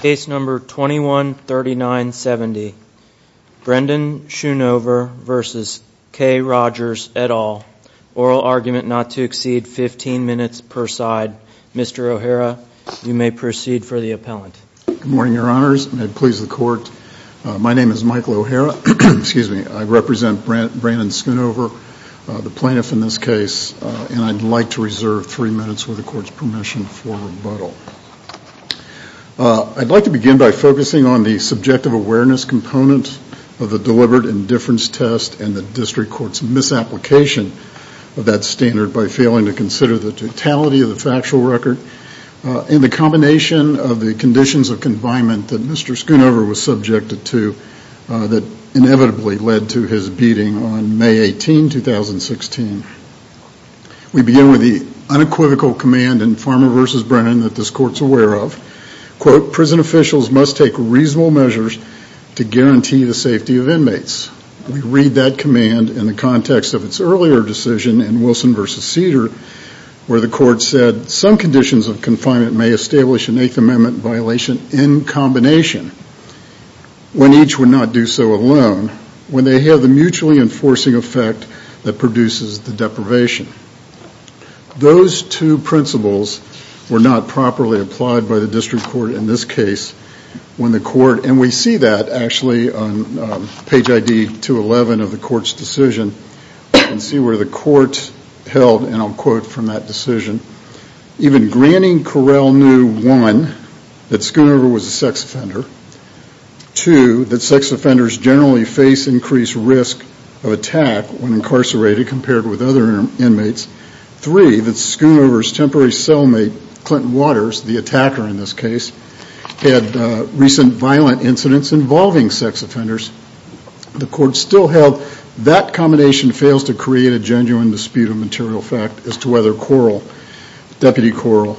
Case number 213970. Brendan Schoonover versus K Rogers et al. Oral argument not to exceed 15 minutes per side. Mr. O'Hara, you may proceed for the appellant. Good morning, your honors. May it please the court, my name is Michael O'Hara, excuse me, I represent Brandon Schoonover, the plaintiff in this case, and I'd like to begin by focusing on the subjective awareness component of the deliberate indifference test and the district court's misapplication of that standard by failing to consider the totality of the factual record and the combination of the conditions of confinement that Mr. Schoonover was subjected to that inevitably led to his beating on May 18, 2016. We begin with the unequivocal command in Farmer v. Brennan that this court's aware of, quote, prison officials must take reasonable measures to guarantee the safety of inmates. We read that command in the context of its earlier decision in Wilson v. Cedar, where the court said some conditions of confinement may establish an Eighth Amendment violation in combination when each would not do so alone, when they have the mutually enforcing effect that produces the deprivation. Those two principles were not properly applied by the district court in this case when the court, and we see that actually on page ID 211 of the court's decision, we can see where the court held, and I'll quote from that decision, even granting Correll knew, one, that Schoonover was a sex offender, two, that sex offenders generally face increased risk of attack when incarcerated compared with other inmates, three, that Schoonover's temporary cellmate, Clinton Waters, the attacker in this case, had recent violent incidents involving sex offenders. The court still held that combination fails to create a genuine dispute of material fact as to whether Correll, Deputy Correll,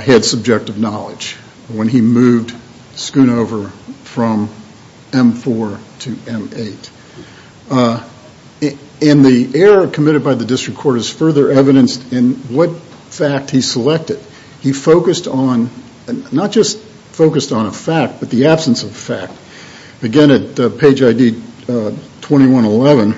had subjective knowledge when he moved Schoonover from M4 to M8. And the error committed by the district court is further evidenced in what fact he selected. He focused on, not just focused on a fact, but the absence of a fact. Again, at page ID 2111,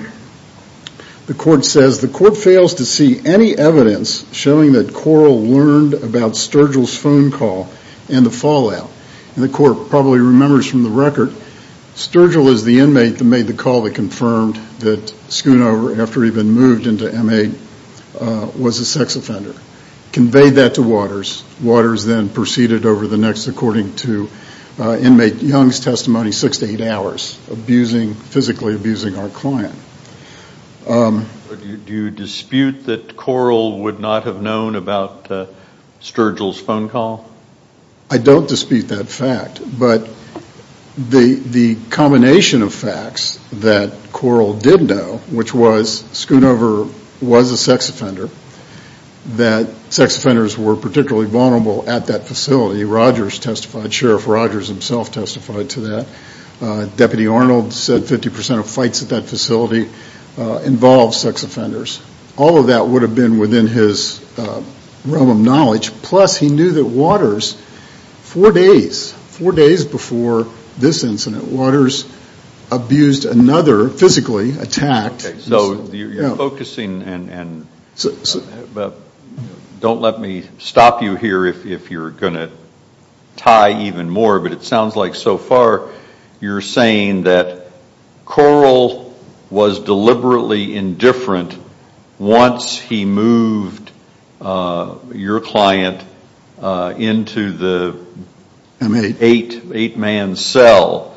the court says the court fails to see any evidence showing that Correll learned about Sturgill's phone call and the fallout. And the court probably remembers from the record, Sturgill is the inmate that made the call that confirmed that Schoonover, after he'd been moved into M8, was a sex offender. Conveyed that to Waters. Waters then proceeded over the next, according to inmate Young's testimony, six to eight hours. Abusing, physically abusing our client. Do you dispute that Correll would not have known about Sturgill's phone call? I don't dispute that fact. But the combination of facts that Correll did know, which was Schoonover was a sex offender, that sex offenders were particularly vulnerable at that facility. Rogers testified, Sheriff Rogers himself testified to that. Deputy Arnold said 50% of fights at that facility involved sex offenders. All of that would have been within his realm of knowledge. Plus, he knew that Waters, four days, four days before this incident, Waters abused another, physically attacked. So you're focusing, and don't let me get too far, you're saying that Correll was deliberately indifferent once he moved your client into the M8, eight man cell,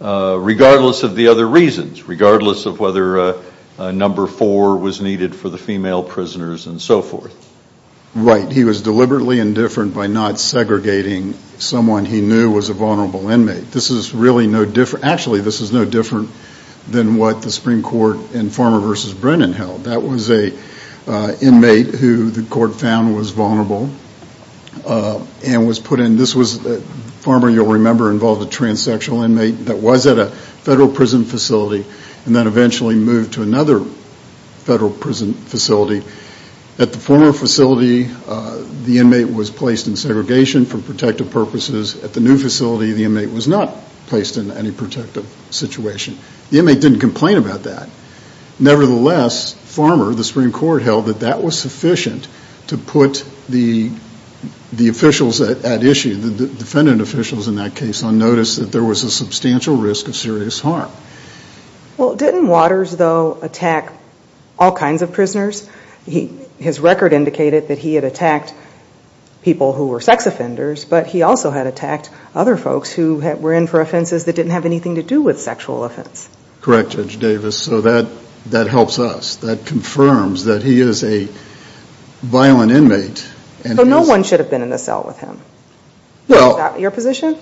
regardless of the other reasons. Regardless of whether number four was needed for the female prisoners and so forth. Right. He was deliberately indifferent by not This is really no different, actually this is no different than what the Supreme Court in Farmer v. Brennan held. That was an inmate who the court found was vulnerable and was put in, this was, Farmer, you'll remember, involved a transsexual inmate that was at a federal prison facility and then eventually moved to another federal prison facility. At the former facility, the inmate was in any protective situation. The inmate didn't complain about that. Nevertheless, Farmer, the Supreme Court held that that was sufficient to put the officials at issue, the defendant officials in that case, on notice that there was a substantial risk of serious harm. Well, didn't Waters, though, attack all kinds of prisoners? His record indicated that he had attacked people who were sex offenders, but he also had attacked other folks who were in for offenses that didn't have anything to do with sexual offense. Correct, Judge Davis. So that helps us. That confirms that he is a violent inmate. So no one should have been in the cell with him? Is that your position?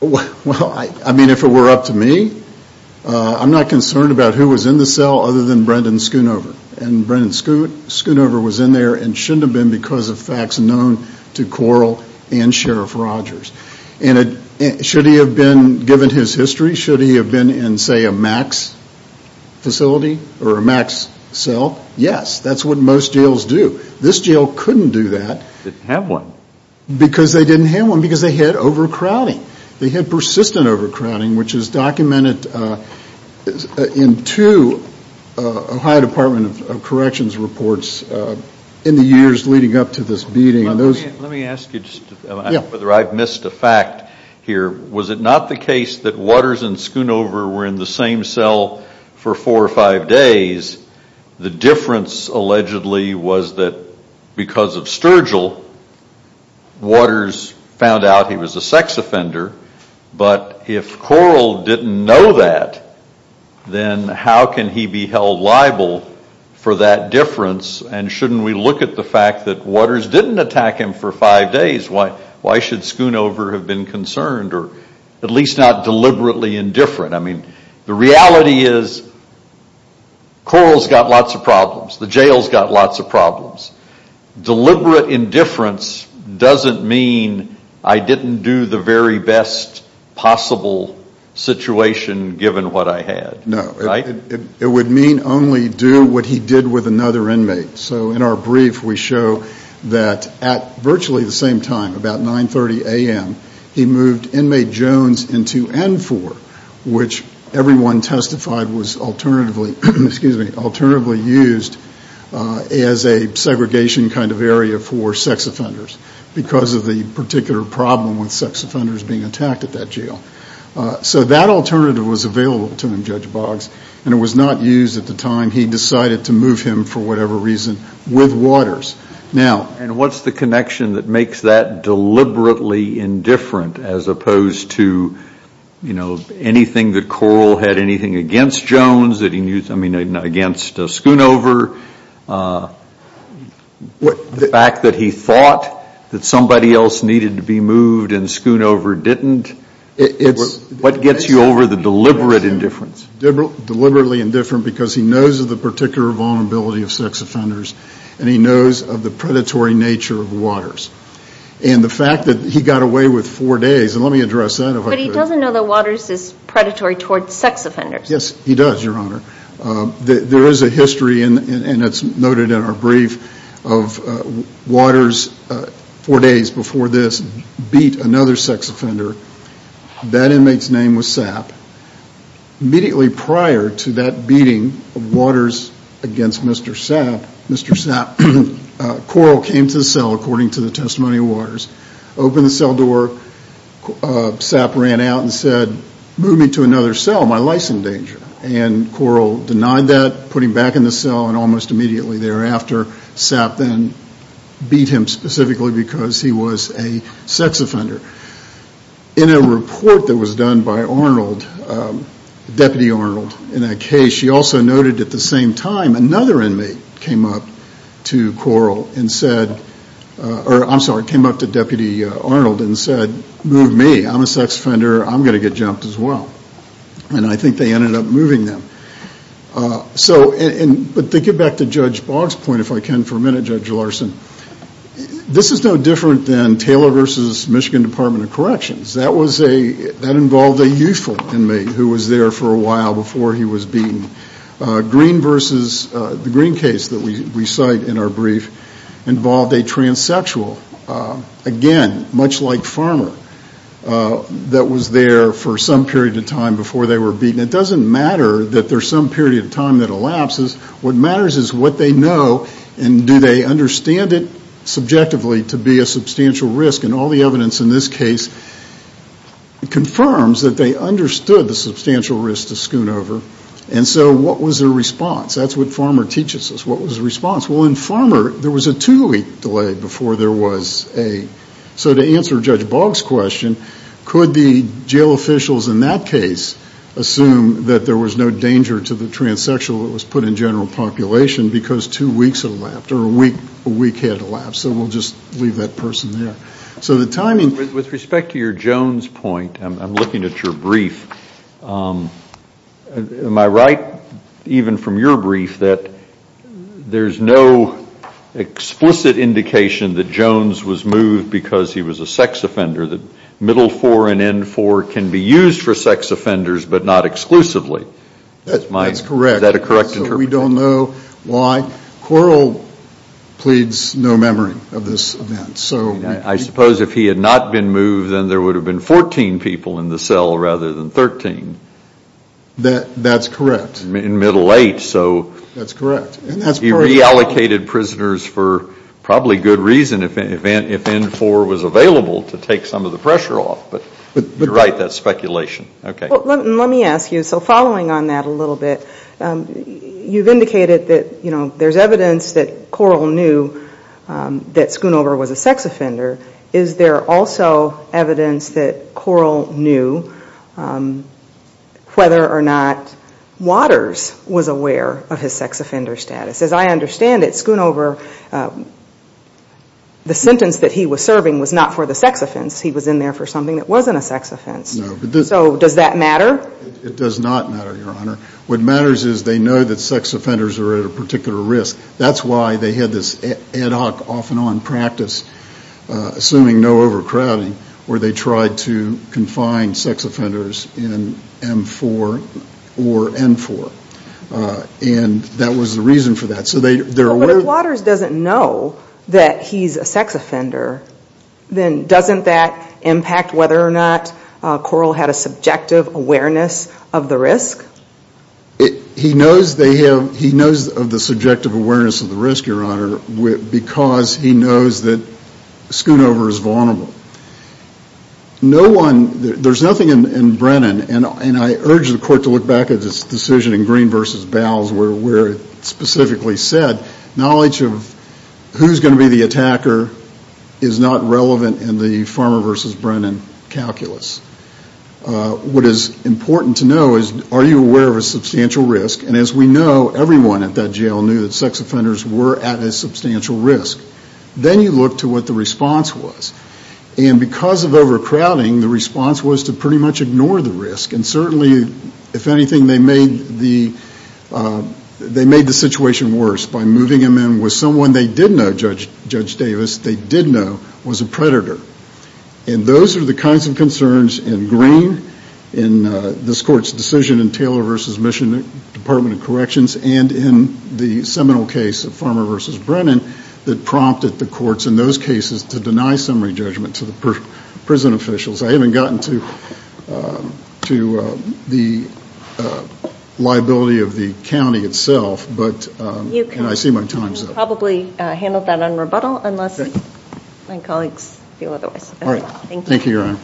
Well, I mean, if it were up to me, I'm not concerned about who was in the cell other than Brendan Schoonover. And Brendan Schoonover is, in fact, known to Coral and Sheriff Rogers. And should he have been, given his history, should he have been in, say, a max facility or a max cell? Yes. That's what most jails do. This jail couldn't do that. They didn't have one. Because they didn't have one, because they had overcrowding. They had persistent overcrowding, which is documented in two Ohio Department of Justice beatings. Let me ask you whether I've missed a fact here. Was it not the case that Waters and Schoonover were in the same cell for four or five days? The difference, allegedly, was that because of Sturgill, Waters found out he was a sex offender. But if Coral didn't know that, then how can he be held liable for that difference? And shouldn't we look at the fact that Waters didn't attack him for five days? Why should Schoonover have been concerned, or at least not deliberately indifferent? I mean, the reality is Coral's got lots of problems. The jail's got lots of problems. Deliberate indifference doesn't mean I didn't do the very best possible situation given what I had. No. It would mean only do what he did with another inmate. So in our brief, we show that at virtually the same time, about 9.30 a.m., he moved inmate Jones into N4, which everyone testified was alternatively used as a segregation kind of area for sex offenders because of the particular problem with sex offenders being attacked at that jail. So that alternative was available to him, Judge Boggs, and it was not used at the time he decided to move him, for whatever reason, with Waters. And what's the connection that makes that deliberately indifferent as opposed to anything that Coral had, anything against Jones, I mean, against Schoonover? The fact that he thought that somebody else needed to be moved and Schoonover didn't? What gets you over the deliberate indifference? Deliberately indifferent because he knows of the particular vulnerability of sex offenders, and he knows of the predatory nature of Waters. And the fact that he got away with four days, and let me address that if I could. But he doesn't know that Waters is predatory towards sex offenders. Yes, he does, Your Honor. There is a history, and it's noted in our brief, of Waters, four days before this, beat another sex offender. That inmate's name was Sap. Immediately prior to that beating of Waters against Mr. Sap, Mr. Sap, Coral came to the cell, ran out, and said, move me to another cell. My life's in danger. And Coral denied that, put him back in the cell, and almost immediately thereafter, Sap then beat him specifically because he was a sex offender. In a report that was done by Arnold, Deputy Arnold, in that case, she also noted at the same time another inmate came up to Coral and said, I'm sorry, came up to Deputy Arnold and said, move me. I'm a sex offender. I'm going to get jumped as well. And I think they ended up moving them. But to get back to Judge Boggs' point, if I can for a minute, Judge Larson, this is no different than Taylor v. Michigan Department of Corrections. That involved a youthful inmate who was there for a while before he was beaten. Green v. the Green case that we cite in our brief involved a transsexual, again, much like Farmer, that was there for some period of time before they were beaten. It doesn't matter that there's some period of time that elapses. What matters is what they know and do they understand it subjectively to be a substantial risk. And all the evidence in this case confirms that they understood the substantial risk to scoon over. And so what was their response? That's what Farmer teaches us. What was the response? Well, in Farmer, there was a two-week delay before there was a. So to answer Judge Boggs' question, could the jail officials in that case assume that there was no danger to the transsexual that was put in general population because two weeks had elapsed or a week had elapsed? So we'll just leave that person there. So the timing. With respect to your Jones point, I'm looking at your brief. Am I right, even from your brief, that there's no explicit indication that Jones was moved because he was a sex offender, that middle four and end four can be used for sex offenders but not exclusively? That's correct. Is that a correct interpretation? We don't know why. Quarrel pleads no memory of this event. I suppose if he had not been moved, then there would have been 14 people in the cell rather than 13. That's correct. In middle eight, so. That's correct. He reallocated prisoners for probably good reason if end four was available to take some of the pressure off. But you're right, that's speculation. Let me ask you, so following on that a little bit, you've indicated that there's evidence that Quarrel knew that Schoonover was a sex offender. Is there also evidence that Quarrel knew whether or not Waters was aware of his sex offender status? As I understand it, Schoonover, the sentence that he was serving was not for the sex offense. He was in there for something that wasn't a sex offense. No. So does that matter? It does not matter, Your Honor. What matters is they know that sex offenders are at a particular risk. That's why they had this ad hoc off and on practice, assuming no overcrowding, where they tried to confine sex offenders in M4 or N4. And that was the reason for that. But if Waters doesn't know that he's a sex offender, then doesn't that impact whether or not Quarrel had a subjective awareness of the risk? He knows of the subjective awareness of the risk, Your Honor, because he knows that Schoonover is vulnerable. There's nothing in Brennan, and I urge the Court to look back at this decision in Green v. Bowles where it specifically said knowledge of who's going to be the attacker is not relevant in the Farmer v. Brennan calculus. What is important to know is are you aware of a substantial risk? And as we know, everyone at that jail knew that sex offenders were at a substantial risk. Then you look to what the response was. And because of overcrowding, the response was to pretty much ignore the risk. And certainly, if anything, they made the situation worse by moving him in with someone they did know, Judge Davis, they did know was a predator. And those are the kinds of concerns in Green, in this Court's decision in Taylor v. Mission, Department of Corrections, and in the seminal case of Farmer v. Brennan that prompted the courts in those cases to deny summary judgment to the prison officials. I haven't gotten to the liability of the county itself, and I see my time's up. You can probably handle that on rebuttal unless my colleagues feel otherwise. All right. Thank you, Your Honor.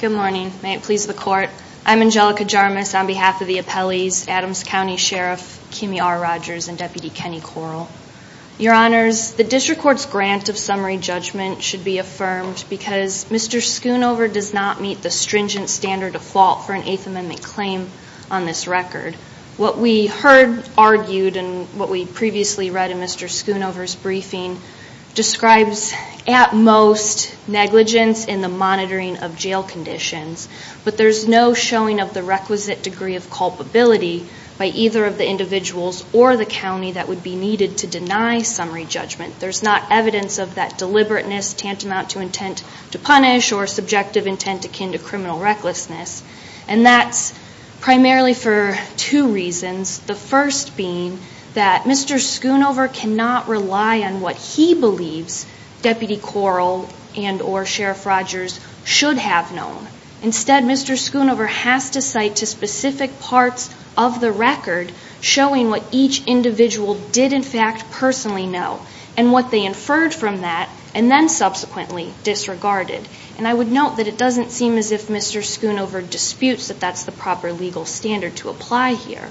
Good morning. May it please the Court. I'm Angelica Jarmus on behalf of the appellees, Adams County Sheriff Kimi R. Rogers and Deputy Kenny Correll. Your Honors, the district court's grant of summary judgment should be affirmed because Mr. Schoonover does not meet the stringent standard of fault for an Eighth Amendment claim on this record. What we heard argued and what we previously read in Mr. Schoonover's briefing describes at most negligence in the monitoring of jail conditions. But there's no showing of the requisite degree of culpability by either of the individuals or the county that would be needed to deny summary judgment. There's not evidence of that deliberateness tantamount to intent to punish or subjective intent akin to criminal recklessness. And that's primarily for two reasons, the first being that Mr. Schoonover cannot rely on what he believes Deputy Correll and or Sheriff Rogers should have known. Instead, Mr. Schoonover has to cite to specific parts of the record showing what each individual did in fact personally know and what they inferred from that and then subsequently disregarded. And I would note that it doesn't seem as if Mr. Schoonover disputes that that's the proper legal standard to apply here.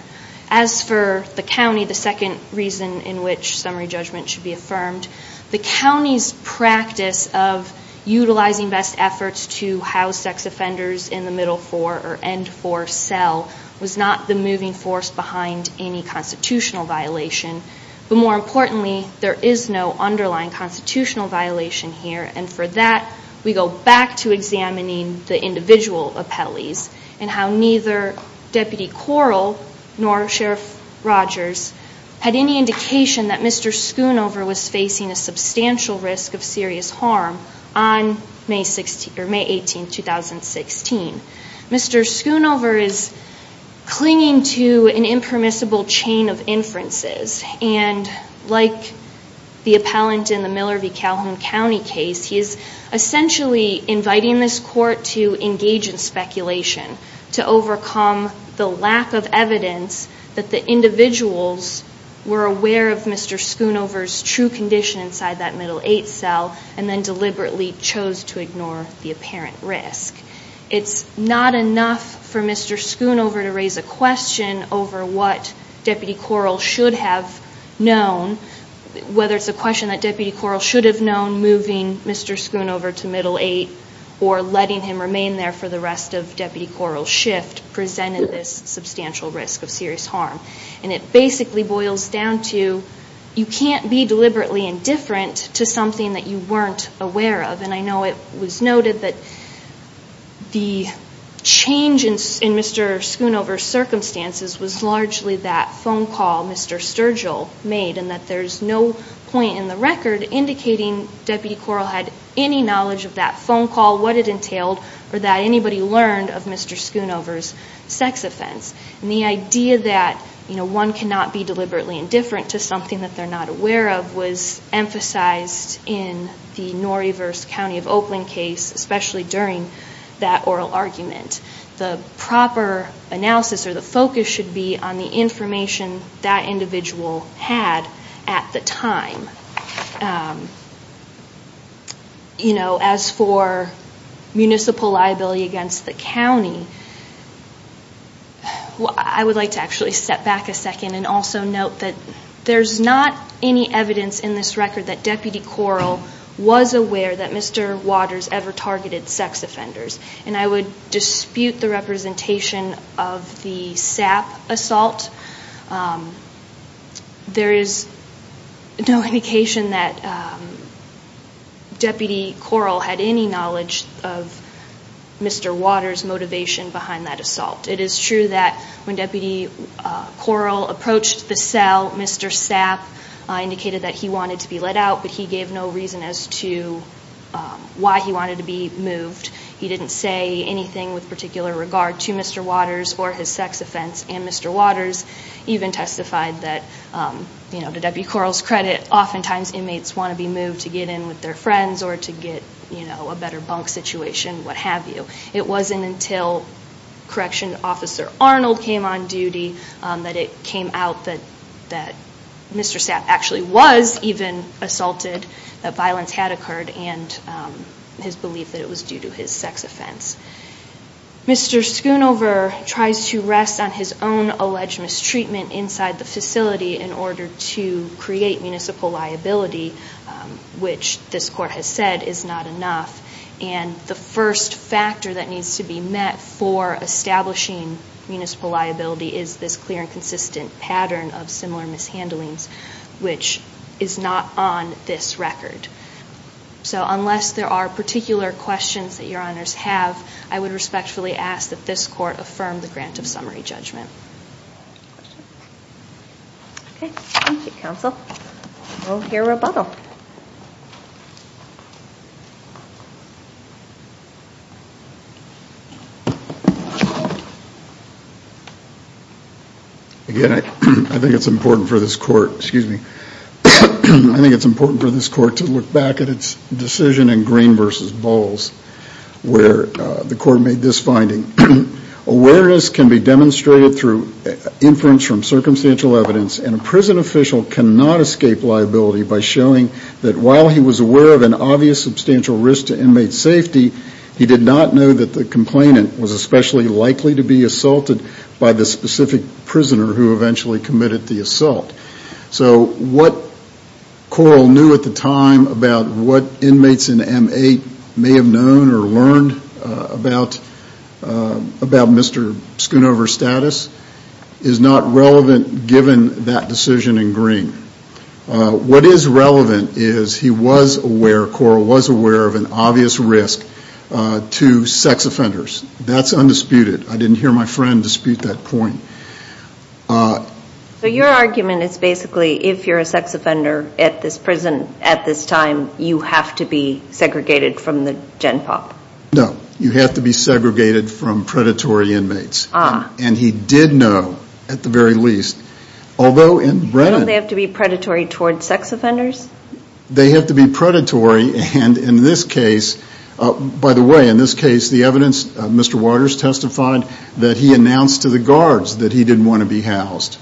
As for the county, the second reason in which summary judgment should be affirmed, the county's practice of utilizing best efforts to house sex offenders in the middle four or end four cell was not the moving force behind any constitutional violation. But more importantly, there is no underlying constitutional violation here. And for that, we go back to examining the individual appellees and how neither Deputy Correll nor Sheriff Rogers had any indication that Mr. Schoonover was facing a substantial risk of serious harm on May 18, 2016. Mr. Schoonover is clinging to an impermissible chain of inferences and like the appellant in the Miller v. Calhoun County case, he is essentially inviting this court to engage in speculation to overcome the lack of evidence that the individuals were aware of Mr. Schoonover's true condition inside that middle eight cell and then deliberately chose to ignore the apparent risk. It's not enough for Mr. Schoonover to raise a question over what Deputy Correll should have known, whether it's a question that Deputy Correll should have known moving Mr. Schoonover to middle eight or letting him remain there for the rest of Deputy Correll's shift presented this substantial risk of serious harm. And it basically boils down to you can't be deliberately indifferent to something that you weren't aware of. And I know it was noted that the change in Mr. Schoonover's circumstances was largely that phone call Mr. Sturgill made and that there's no point in the record indicating Deputy Correll had any knowledge of that phone call, what it entailed, or that anybody learned of Mr. Schoonover's sex offense. And the idea that one cannot be deliberately indifferent to something that they're not aware of was emphasized in the Norrieverse County of Oakland case, especially during that oral argument. The proper analysis or the focus should be on the information that individual had at the time. As for municipal liability against the county, I would like to actually step back a second and also note that there's not any evidence in this record that Deputy Correll was aware that Mr. Waters ever targeted sex offenders. And I would dispute the representation of the Sap assault. There is no indication that Deputy Correll had any knowledge of Mr. Waters' motivation behind that assault. It is true that when Deputy Correll approached the cell, Mr. Sap indicated that he wanted to be let out, but he gave no reason as to why he wanted to be moved. He didn't say anything with particular regard to Mr. Waters or his sex offense. And Mr. Waters even testified that, to Deputy Correll's credit, oftentimes inmates want to be moved to get in with their friends or to get a better bunk situation, what have you. It wasn't until Correction Officer Arnold came on duty that it came out that Mr. Sap actually was even assaulted, that violence had occurred, and his belief that it was due to his sex offense. Mr. Schoonover tries to rest on his own alleged mistreatment inside the facility in order to create municipal liability, which this Court has said is not enough. And the first factor that needs to be met for establishing municipal liability is this clear and consistent pattern of similar mishandlings, which is not on this record. So unless there are particular questions that Your Honors have, I would respectfully ask that this Court affirm the grant of summary judgment. Thank you, Counsel. We'll hear rebuttal. Again, I think it's important for this Court to look back at its decision in Green v. Bowles where the Court made this finding. Awareness can be demonstrated through inference from circumstantial evidence, and a prison official cannot escape liability by showing that while he was aware of an obvious substantial risk to inmate safety, he did not know that the complainant was especially likely to be assaulted by the specific prisoner who eventually committed the assault. So what Corll knew at the time about what inmates in M-8 may have known or learned about Mr. Schoonover's status is not relevant given that decision in Green. What is relevant is he was aware, Corll was aware, of an obvious risk to sex offenders. That's undisputed. I didn't hear my friend dispute that point. So your argument is basically if you're a sex offender at this prison at this time, you have to be segregated from the gen pop? No. You have to be segregated from predatory inmates. And he did know, at the very least, although in Brennan... Don't they have to be predatory towards sex offenders? They have to be predatory, and in this case, by the way, in this case the evidence, Mr. Waters testified that he announced to the guards that he didn't want to be housed,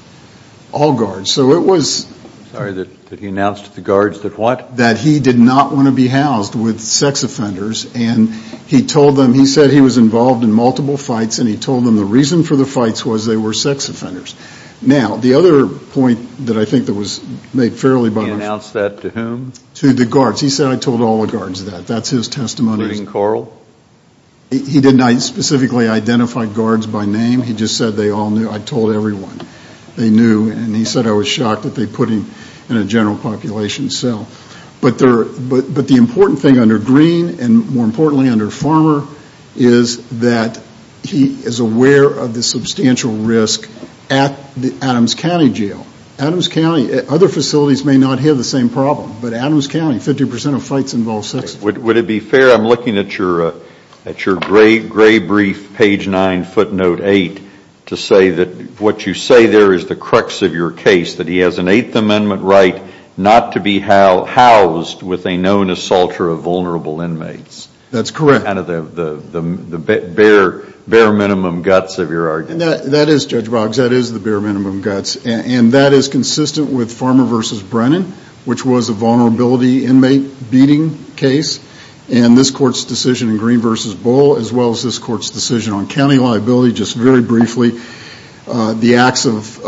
all guards. So it was... Sorry, that he announced to the guards that what? That he did not want to be housed with sex offenders, and he told them, he said he was involved in multiple fights, and he told them the reason for the fights was they were sex offenders. Now, the other point that I think that was made fairly by... He announced that to whom? To the guards. He said, I told all the guards that. That's his testimony. Including Corll? He did not specifically identify guards by name. He just said they all knew. I told everyone they knew, and he said I was shocked that they put him in a general population cell. But the important thing under Green, and more importantly under Farmer, is that he is aware of the substantial risk at Adams County Jail. Adams County, other facilities may not have the same problem, but Adams County, 50% of fights involve sex offenders. Would it be fair, I'm looking at your gray brief, page 9, footnote 8, to say that what you say there is the crux of your case, that he has an Eighth Amendment right not to be housed with a known assaulter of vulnerable inmates. That's correct. Kind of the bare minimum guts of your argument. That is, Judge Boggs, that is the bare minimum guts, and that is consistent with Farmer v. Brennan, which was a vulnerability inmate beating case, and this Court's decision in Green v. Bohl, as well as this Court's decision on county liability, just very briefly, the acts of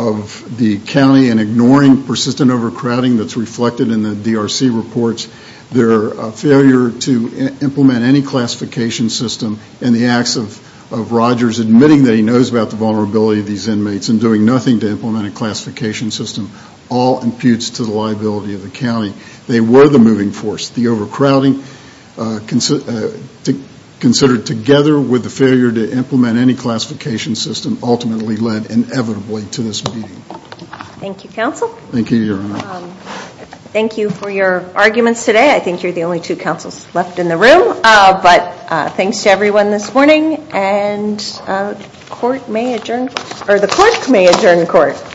the county in ignoring persistent overcrowding that's reflected in the DRC reports, their failure to implement any classification system, and the acts of Rogers admitting that he knows about the vulnerability of these inmates and doing nothing to implement a classification system all imputes to the liability of the county. They were the moving force. The overcrowding considered together with the failure to implement any classification system ultimately led inevitably to this meeting. Thank you, Counsel. Thank you, Your Honor. Thank you for your arguments today. I think you're the only two counsels left in the room, but thanks to everyone this morning, and the Court may adjourn the Court.